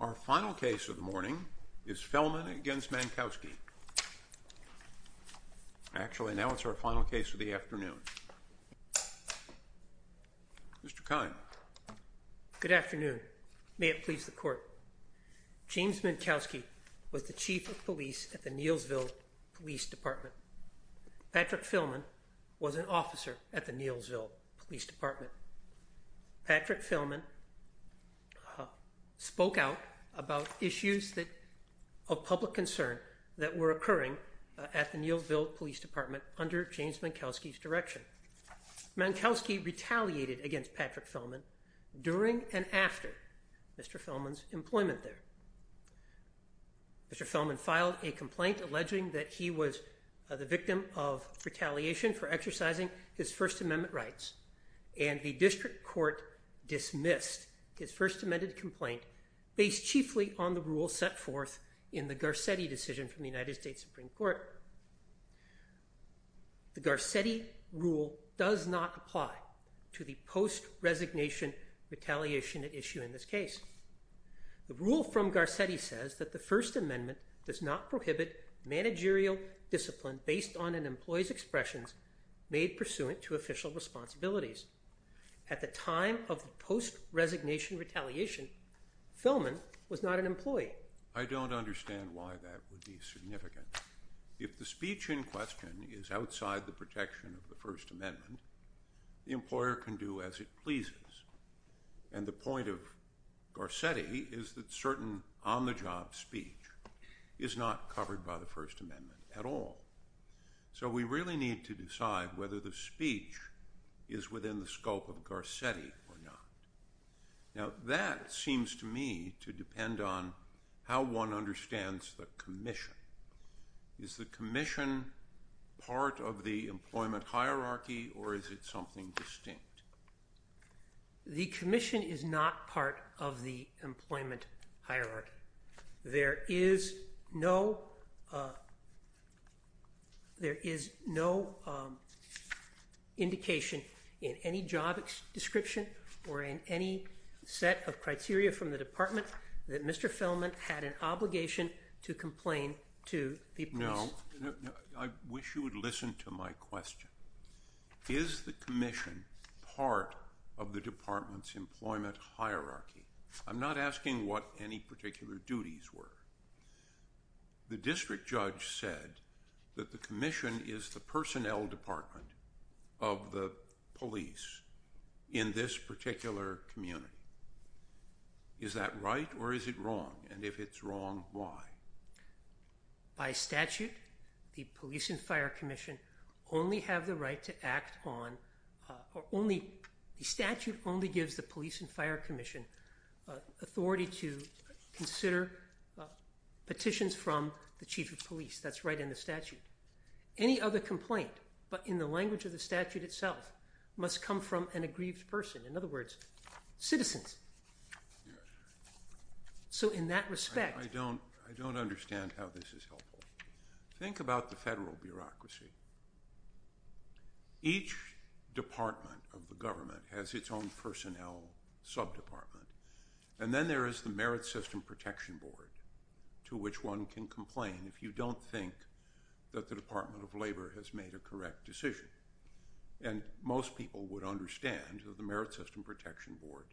Our final case of the morning is Fehlman v. Mankowski, actually now it's our final case of the afternoon. Mr. Kine. Good afternoon. May it please the court. James Mankowski was the chief of police at the Neelsville Police Department. Patrick Fehlman was an officer at the Neelsville Police Department. Patrick Fehlman spoke out about issues of public concern that were occurring at the Neelsville Police Department under James Mankowski's direction. Mankowski retaliated against Patrick Fehlman during and after Mr. Fehlman's employment there. Mr. Fehlman filed a complaint alleging that he was the victim of retaliation for exercising his First Amendment rights, and the district court dismissed his First Amendment complaint based chiefly on the rule set forth in the Garcetti decision from the United States Supreme Court. The Garcetti rule does not apply to the post-resignation retaliation issue in this case. The rule from Garcetti says that the First Amendment does not prohibit managerial discipline based on an employee's expressions made pursuant to official responsibilities. At the time of the post-resignation retaliation, Fehlman was not an employee. I don't understand why that would be significant. If the speech in question is outside the protection of the First Amendment, the employer can do as it pleases. And the point of Garcetti is that certain on-the-job speech is not covered by the First Amendment at all. So we really need to decide whether the speech is within the scope of Garcetti or not. Now, that seems to me to depend on how one understands the commission. Is the commission part of the employment hierarchy, or is it something distinct? The commission is not part of the employment hierarchy. There is no indication in any job description or in any set of criteria from the department that Mr. Fehlman had an obligation to complain to the police. No. I wish you would listen to my question. Is the commission part of the department's employment hierarchy? I'm not asking what any particular duties were. The district judge said that the commission is the personnel department of the police in this particular community. Is that right, or is it wrong? And if it's wrong, why? By statute, the police and fire commission only have the right to act on, or only, the statute only gives the police and fire commission authority to consider petitions from the chief of police. That's right in the statute. Any other complaint, but in the language of the statute itself, must come from an aggrieved person, in other words, citizens. So in that respect… I don't understand how this is helpful. Think about the federal bureaucracy. Each department of the government has its own personnel sub-department, and then there is the Merit System Protection Board, to which one can complain if you don't think that the Department of Labor has made a correct decision. And most people would understand that the Merit System Protection Board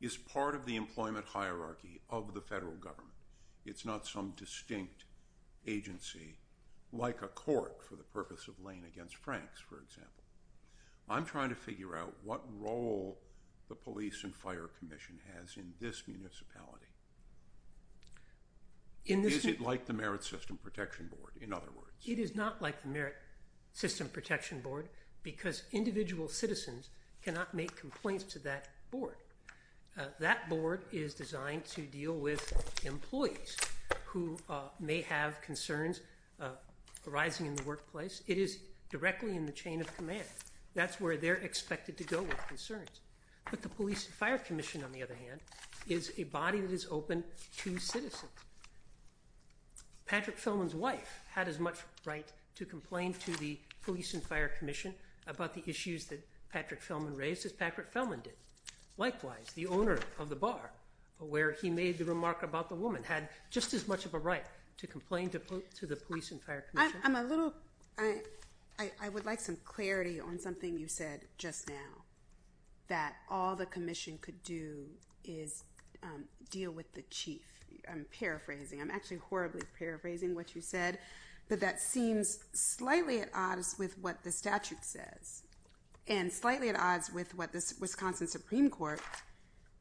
is part of the employment hierarchy of the federal government. It's not some distinct agency, like a court for the purpose of laying against Franks, for example. I'm trying to figure out what role the police and fire commission has in this municipality. Is it like the Merit System Protection Board, in other words? It is not like the Merit System Protection Board because individual citizens cannot make complaints to that board. That board is designed to deal with employees who may have concerns arising in the workplace. It is directly in the chain of command. That's where they're expected to go with concerns. But the police and fire commission, on the other hand, is a body that is open to citizens. Patrick Fellman's wife had as much right to complain to the police and fire commission about the issues that Patrick Fellman raised as Patrick Fellman did. Likewise, the owner of the bar, where he made the remark about the woman, had just as much of a right to complain to the police and fire commission. I would like some clarity on something you said just now, that all the commission could do is deal with the chief. I'm paraphrasing. I'm actually horribly paraphrasing what you said, but that seems slightly at odds with what the statute says and slightly at odds with what the Wisconsin Supreme Court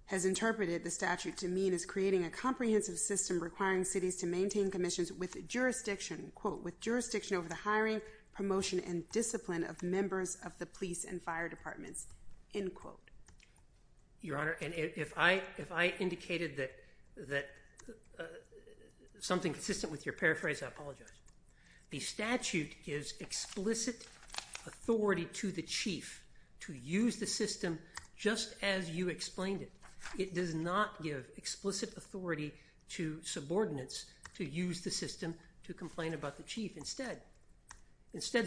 has interpreted the statute to mean as creating a comprehensive system requiring cities to maintain commissions with jurisdiction, quote, with jurisdiction over the hiring, promotion, and discipline of members of the police and fire departments, end quote. Your Honor, if I indicated that something consistent with your paraphrase, I apologize. The statute gives explicit authority to the chief to use the system just as you explained it. It does not give explicit authority to subordinates to use the system to complain about the chief. Instead,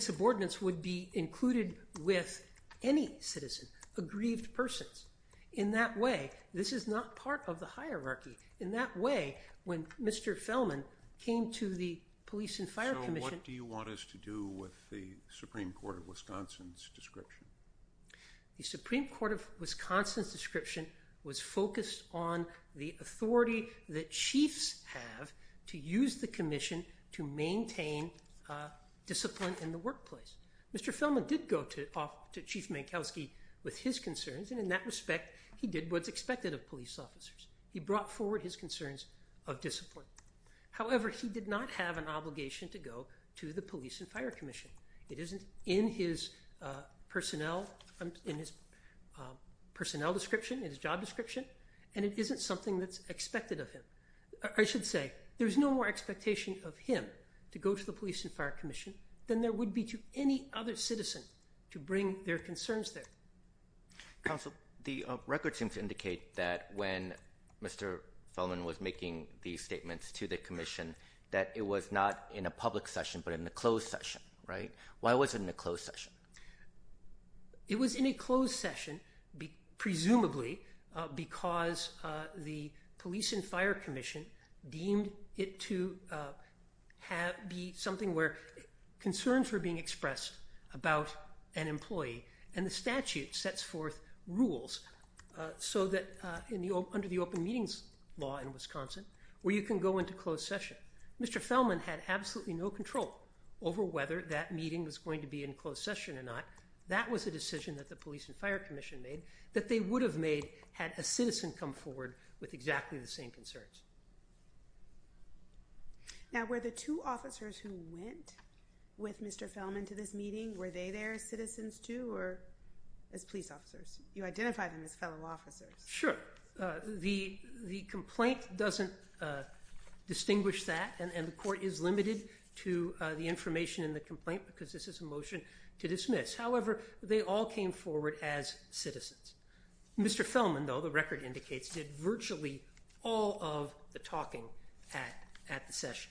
subordinates would be included with any citizen, aggrieved persons. In that way, this is not part of the hierarchy. In that way, when Mr. Fellman came to the police and fire commission So what do you want us to do with the Supreme Court of Wisconsin's description? The Supreme Court of Wisconsin's description was focused on the authority that chiefs have to use the commission to maintain discipline in the workplace. Mr. Fellman did go to Chief Mankowski with his concerns, and in that respect, he did what's expected of police officers. He brought forward his concerns of discipline. However, he did not have an obligation to go to the police and fire commission. It isn't in his personnel description, in his job description, and it isn't something that's expected of him. I should say, there's no more expectation of him to go to the police and fire commission than there would be to any other citizen to bring their concerns there. Counsel, the records seem to indicate that when Mr. Fellman was making these statements to the commission that it was not in a public session but in a closed session, right? Why was it in a closed session? It was in a closed session presumably because the police and fire commission deemed it to be something where concerns were being expressed about an employee, and the statute sets forth rules under the open meetings law in Wisconsin where you can go into closed session. Mr. Fellman had absolutely no control over whether that meeting was going to be in closed session or not. That was a decision that the police and fire commission made that they would have made had a citizen come forward with exactly the same concerns. Now, were the two officers who went with Mr. Fellman to this meeting, were they there as citizens too or as police officers? You identified them as fellow officers. Sure. The complaint doesn't distinguish that, and the court is limited to the information in the complaint because this is a motion to dismiss. However, they all came forward as citizens. Mr. Fellman, though, the record indicates, did virtually all of the talking at the session.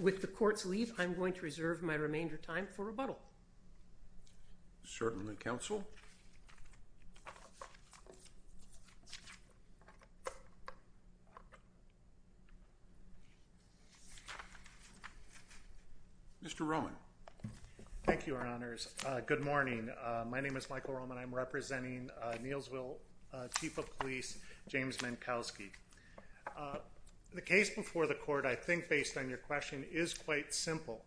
With the court's leave, I'm going to reserve my remainder of time for rebuttal. Certainly, counsel. Mr. Roman. Thank you, Your Honors. Good morning. My name is Michael Roman. I'm representing Neilsville Chief of Police James Minkowski. The case before the court, I think, based on your question, is quite simple.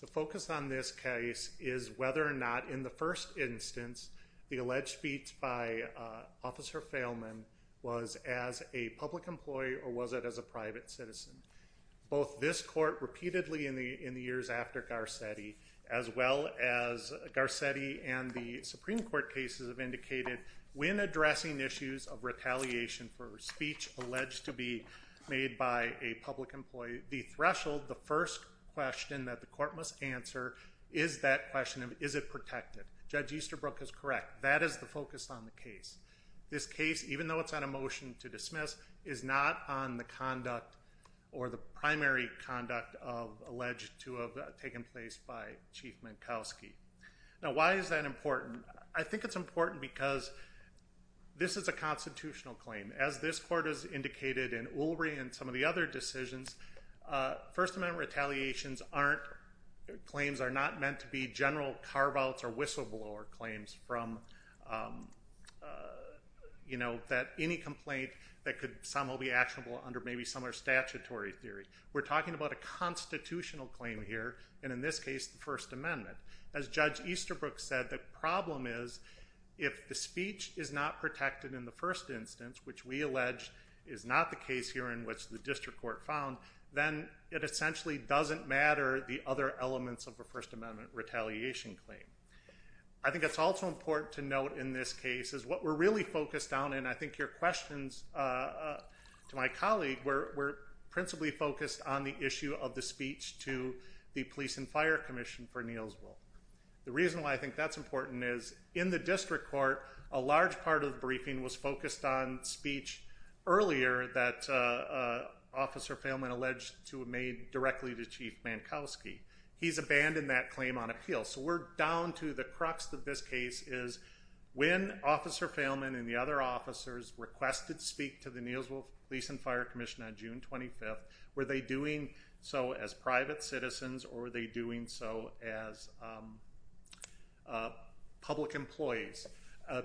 The focus on this case is whether or not, in the first instance, the alleged speech by Officer Fellman was as a public employee or was it as a private citizen. Both this court repeatedly in the years after Garcetti, as well as Garcetti and the Supreme Court cases have indicated when addressing issues of retaliation for speech alleged to be made by a public employee, the threshold, the first question that the court must answer is that question of is it protected. Judge Easterbrook is correct. That is the focus on the case. This case, even though it's on a motion to dismiss, is not on the conduct or the primary conduct alleged to have taken place by Chief Minkowski. Now, why is that important? I think it's important because this is a constitutional claim. As this court has indicated in Ulrey and some of the other decisions, First Amendment retaliations aren't, claims are not meant to be general carve-outs or whistleblower claims from, you know, that any complaint that could somehow be actionable under maybe some other statutory theory. We're talking about a constitutional claim here, and in this case, the First Amendment. As Judge Easterbrook said, the problem is if the speech is not protected in the first instance, which we allege is not the case here in which the district court found, then it essentially doesn't matter the other elements of a First Amendment retaliation claim. I think it's also important to note in this case is what we're really focused on, and I think your questions to my colleague were principally focused on the issue of the speech to the Police and Fire Commission for Neilsville. The reason why I think that's important is in the district court, a large part of the briefing was focused on speech earlier that Officer Failman alleged to have made directly to Chief Minkowski. He's abandoned that claim on appeal. So we're down to the crux of this case is when Officer Failman and the other officers requested to speak to the Neilsville Police and Fire Commission on June 25th, were they doing so as private citizens or were they doing so as public employees,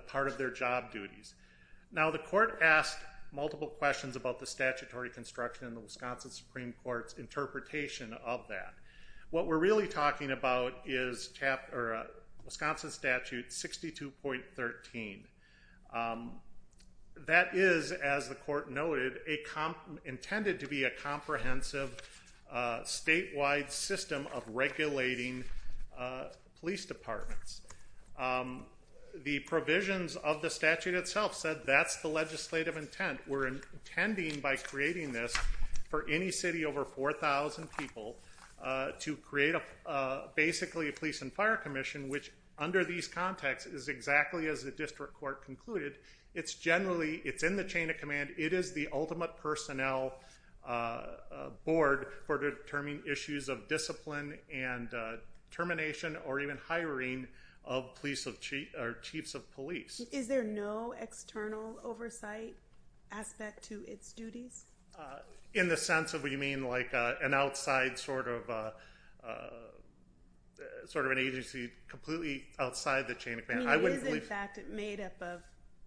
part of their job duties? Now the court asked multiple questions about the statutory construction in the Wisconsin Supreme Court's interpretation of that. What we're really talking about is Wisconsin Statute 62.13. That is, as the court noted, intended to be a comprehensive statewide system of regulating police departments. The provisions of the statute itself said that's the legislative intent. We're intending by creating this for any city over 4,000 people to create basically a Police and Fire Commission, which under these contexts is exactly as the district court concluded. It's generally, it's in the chain of command. It is the ultimate personnel board for determining issues of discipline and termination or even hiring of police or chiefs of police. Is there no external oversight aspect to its duties? In the sense of what you mean, like an outside sort of an agency completely outside the chain of command? It is in fact made up of,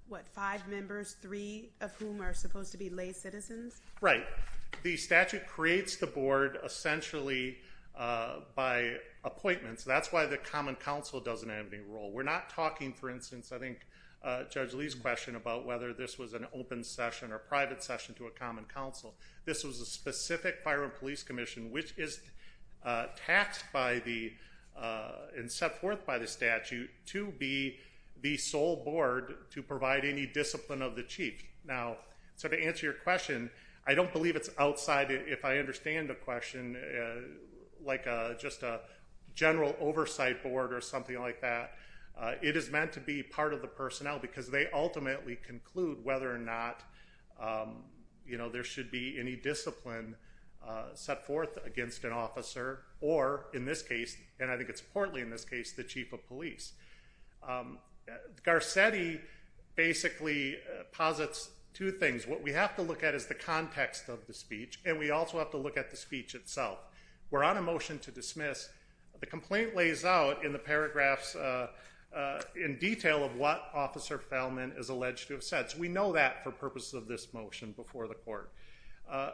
what, five members, three of whom are supposed to be lay citizens? Right. The statute creates the board essentially by appointments. That's why the Common Council doesn't have any role. We're not talking, for instance, I think Judge Lee's question about whether this was an open session or a private session to a Common Council. This was a specific Fire and Police Commission, which is taxed by the and set forth by the statute to be the sole board to provide any discipline of the chief. Now, so to answer your question, I don't believe it's outside, if I understand the question, like just a general oversight board or something like that. It is meant to be part of the personnel because they ultimately conclude whether or not, you know, there should be any discipline set forth against an officer or, in this case, and I think it's importantly in this case, the chief of police. Garcetti basically posits two things. What we have to look at is the context of the speech, and we also have to look at the speech itself. We're on a motion to dismiss. The complaint lays out in the paragraphs in detail of what Officer Feldman is alleged to have said, so we know that for purposes of this motion before the court.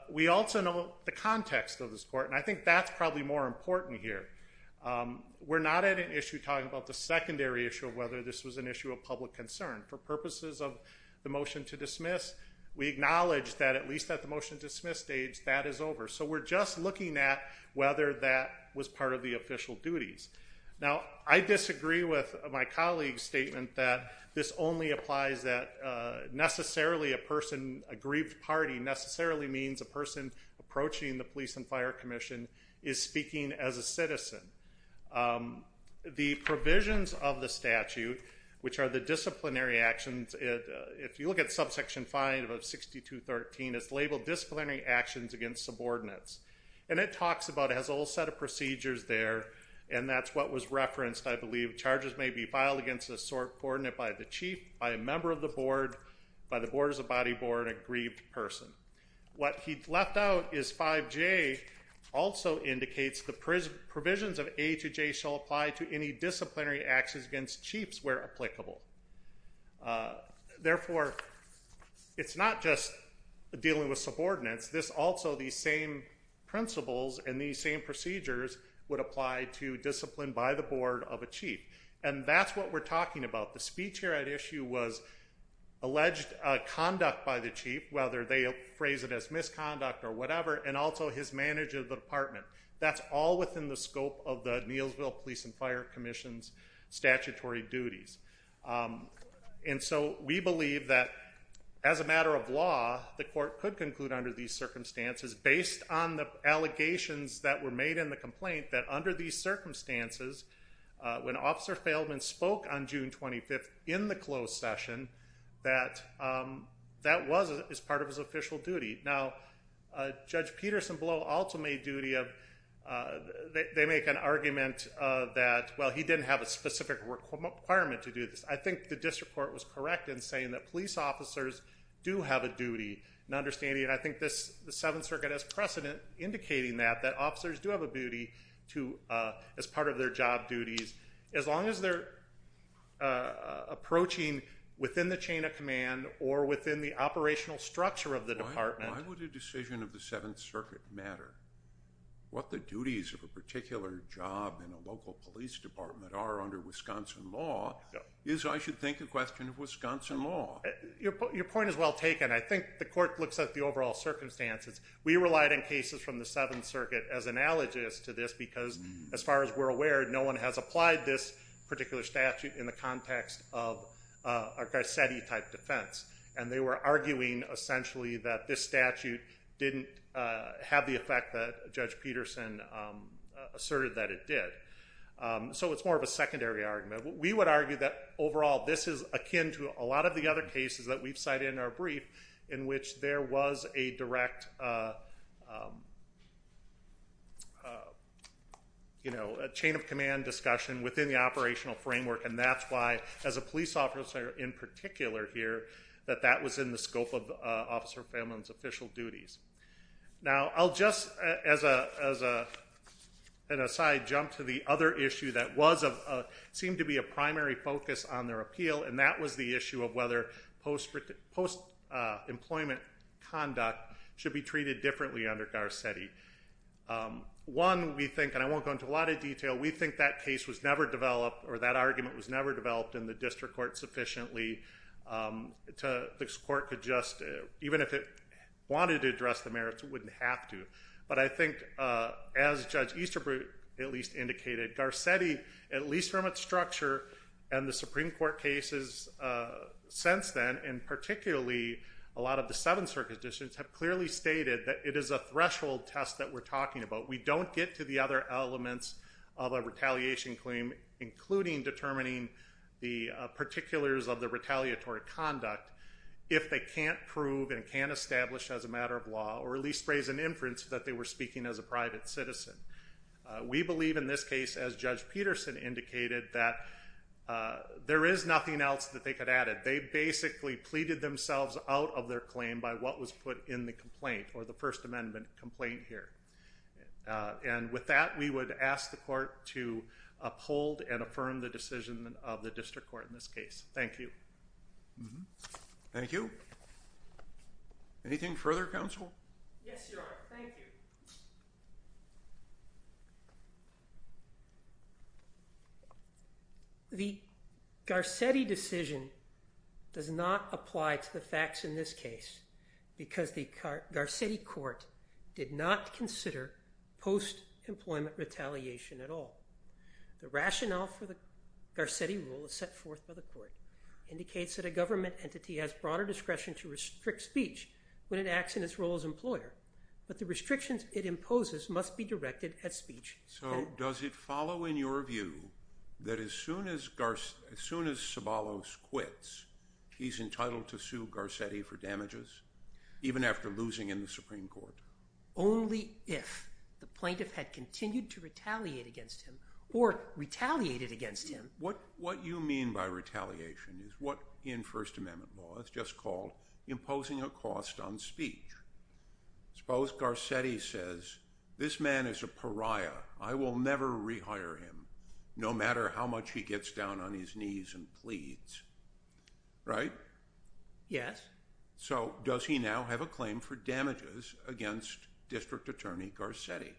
We also know the context of this court, and I think that's probably more important here. We're not at an issue talking about the secondary issue of whether this was an issue of public concern. For purposes of the motion to dismiss, we acknowledge that at least at the motion to dismiss stage, that is over. So we're just looking at whether that was part of the official duties. Now, I disagree with my colleague's statement that this only applies that necessarily a person, a grieved party necessarily means a person approaching the Police and Fire Commission is speaking as a citizen. The provisions of the statute, which are the disciplinary actions, if you look at subsection 5 of 62.13, it's labeled disciplinary actions against subordinates, and it talks about it, has a whole set of procedures there, and that's what was referenced, I believe. Charges may be filed against a sort coordinate by the chief, by a member of the board, by the board as a body board, a grieved person. What he left out is 5J also indicates the provisions of A to J shall apply to any disciplinary actions against chiefs where applicable. Therefore, it's not just dealing with subordinates. This also, these same principles and these same procedures would apply to discipline by the board of a chief. And that's what we're talking about. The speech here at issue was alleged conduct by the chief, whether they phrase it as misconduct or whatever, and also his manager of the department. That's all within the scope of the Neilsville Police and Fire Commission's statutory duties. And so we believe that as a matter of law, the court could conclude under these circumstances, based on the allegations that were made in the complaint, that under these circumstances, when Officer Feldman spoke on June 25th in the closed session, that that was as part of his official duty. Now, Judge Peterson Blow also made duty of, they make an argument that, well, he didn't have a specific requirement to do this. I think the district court was correct in saying that police officers do have a duty. And understanding, I think the Seventh Circuit has precedent indicating that, that officers do have a duty as part of their job duties. As long as they're approaching within the chain of command or within the operational structure of the department. Why would a decision of the Seventh Circuit matter? What the duties of a particular job in a local police department are under Wisconsin law is, I should think, a question of Wisconsin law. Your point is well taken. I think the court looks at the overall circumstances. We relied on cases from the Seventh Circuit as analogous to this because, as far as we're aware, no one has applied this particular statute in the context of a Garcetti type defense. And they were arguing, essentially, that this statute didn't have the effect that Judge Peterson asserted that it did. So it's more of a secondary argument. We would argue that, overall, this is akin to a lot of the other cases that we've cited in our brief in which there was a direct, you know, chain of command discussion within the operational framework. And that's why, as a police officer in particular here, that that was in the scope of Officer Fehman's official duties. Now, I'll just, as an aside, jump to the other issue that seemed to be a primary focus on their appeal. And that was the issue of whether post-employment conduct should be treated differently under Garcetti. One, we think, and I won't go into a lot of detail, we think that case was never developed or that argument was never developed in the district court sufficiently to this court could just, even if it wanted to address the merits, it wouldn't have to. But I think, as Judge Easterbrook at least indicated, Garcetti, at least from its structure and the Supreme Court cases since then, and particularly a lot of the Seventh Circuit decisions, have clearly stated that it is a threshold test that we're talking about. We don't get to the other elements of a retaliation claim, including determining the particulars of the retaliatory conduct, if they can't prove and can't establish as a matter of law, or at least raise an inference that they were speaking as a private citizen. We believe in this case, as Judge Peterson indicated, that there is nothing else that they could add. They basically pleaded themselves out of their claim by what was put in the complaint, or the First Amendment complaint here. And with that, we would ask the court to uphold and affirm the decision of the district court in this case. Thank you. Thank you. Anything further, counsel? Yes, Your Honor. Thank you. The Garcetti decision does not apply to the facts in this case, because the Garcetti court did not consider post-employment retaliation at all. The rationale for the Garcetti rule is set forth by the court. It indicates that a government entity has broader discretion to restrict speech when it acts in its role as employer, but the restrictions it imposes must be directed at speech. So, does it follow in your view that as soon as Sobolos quits, he's entitled to sue Garcetti for damages, even after losing in the Supreme Court? Only if the plaintiff had continued to retaliate against him, or retaliated against him. What you mean by retaliation is what in First Amendment law is just called imposing a cost on speech. Suppose Garcetti says, this man is a pariah. I will never rehire him, no matter how much he gets down on his knees and pleads. Right? Yes. So, does he now have a claim for damages against District Attorney Garcetti?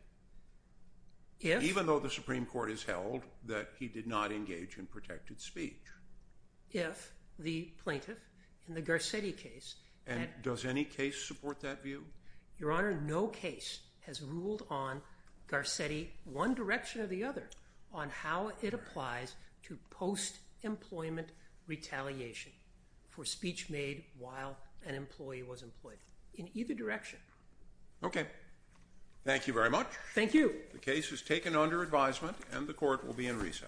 Yes. Even though the Supreme Court has held that he did not engage in protected speech? If the plaintiff in the Garcetti case... And does any case support that view? Your Honor, no case has ruled on Garcetti, one direction or the other, on how it applies to post-employment retaliation for speech made while an employee was employed. In either direction. Okay. Thank you very much. Thank you. The case is taken under advisement and the court will be in recess.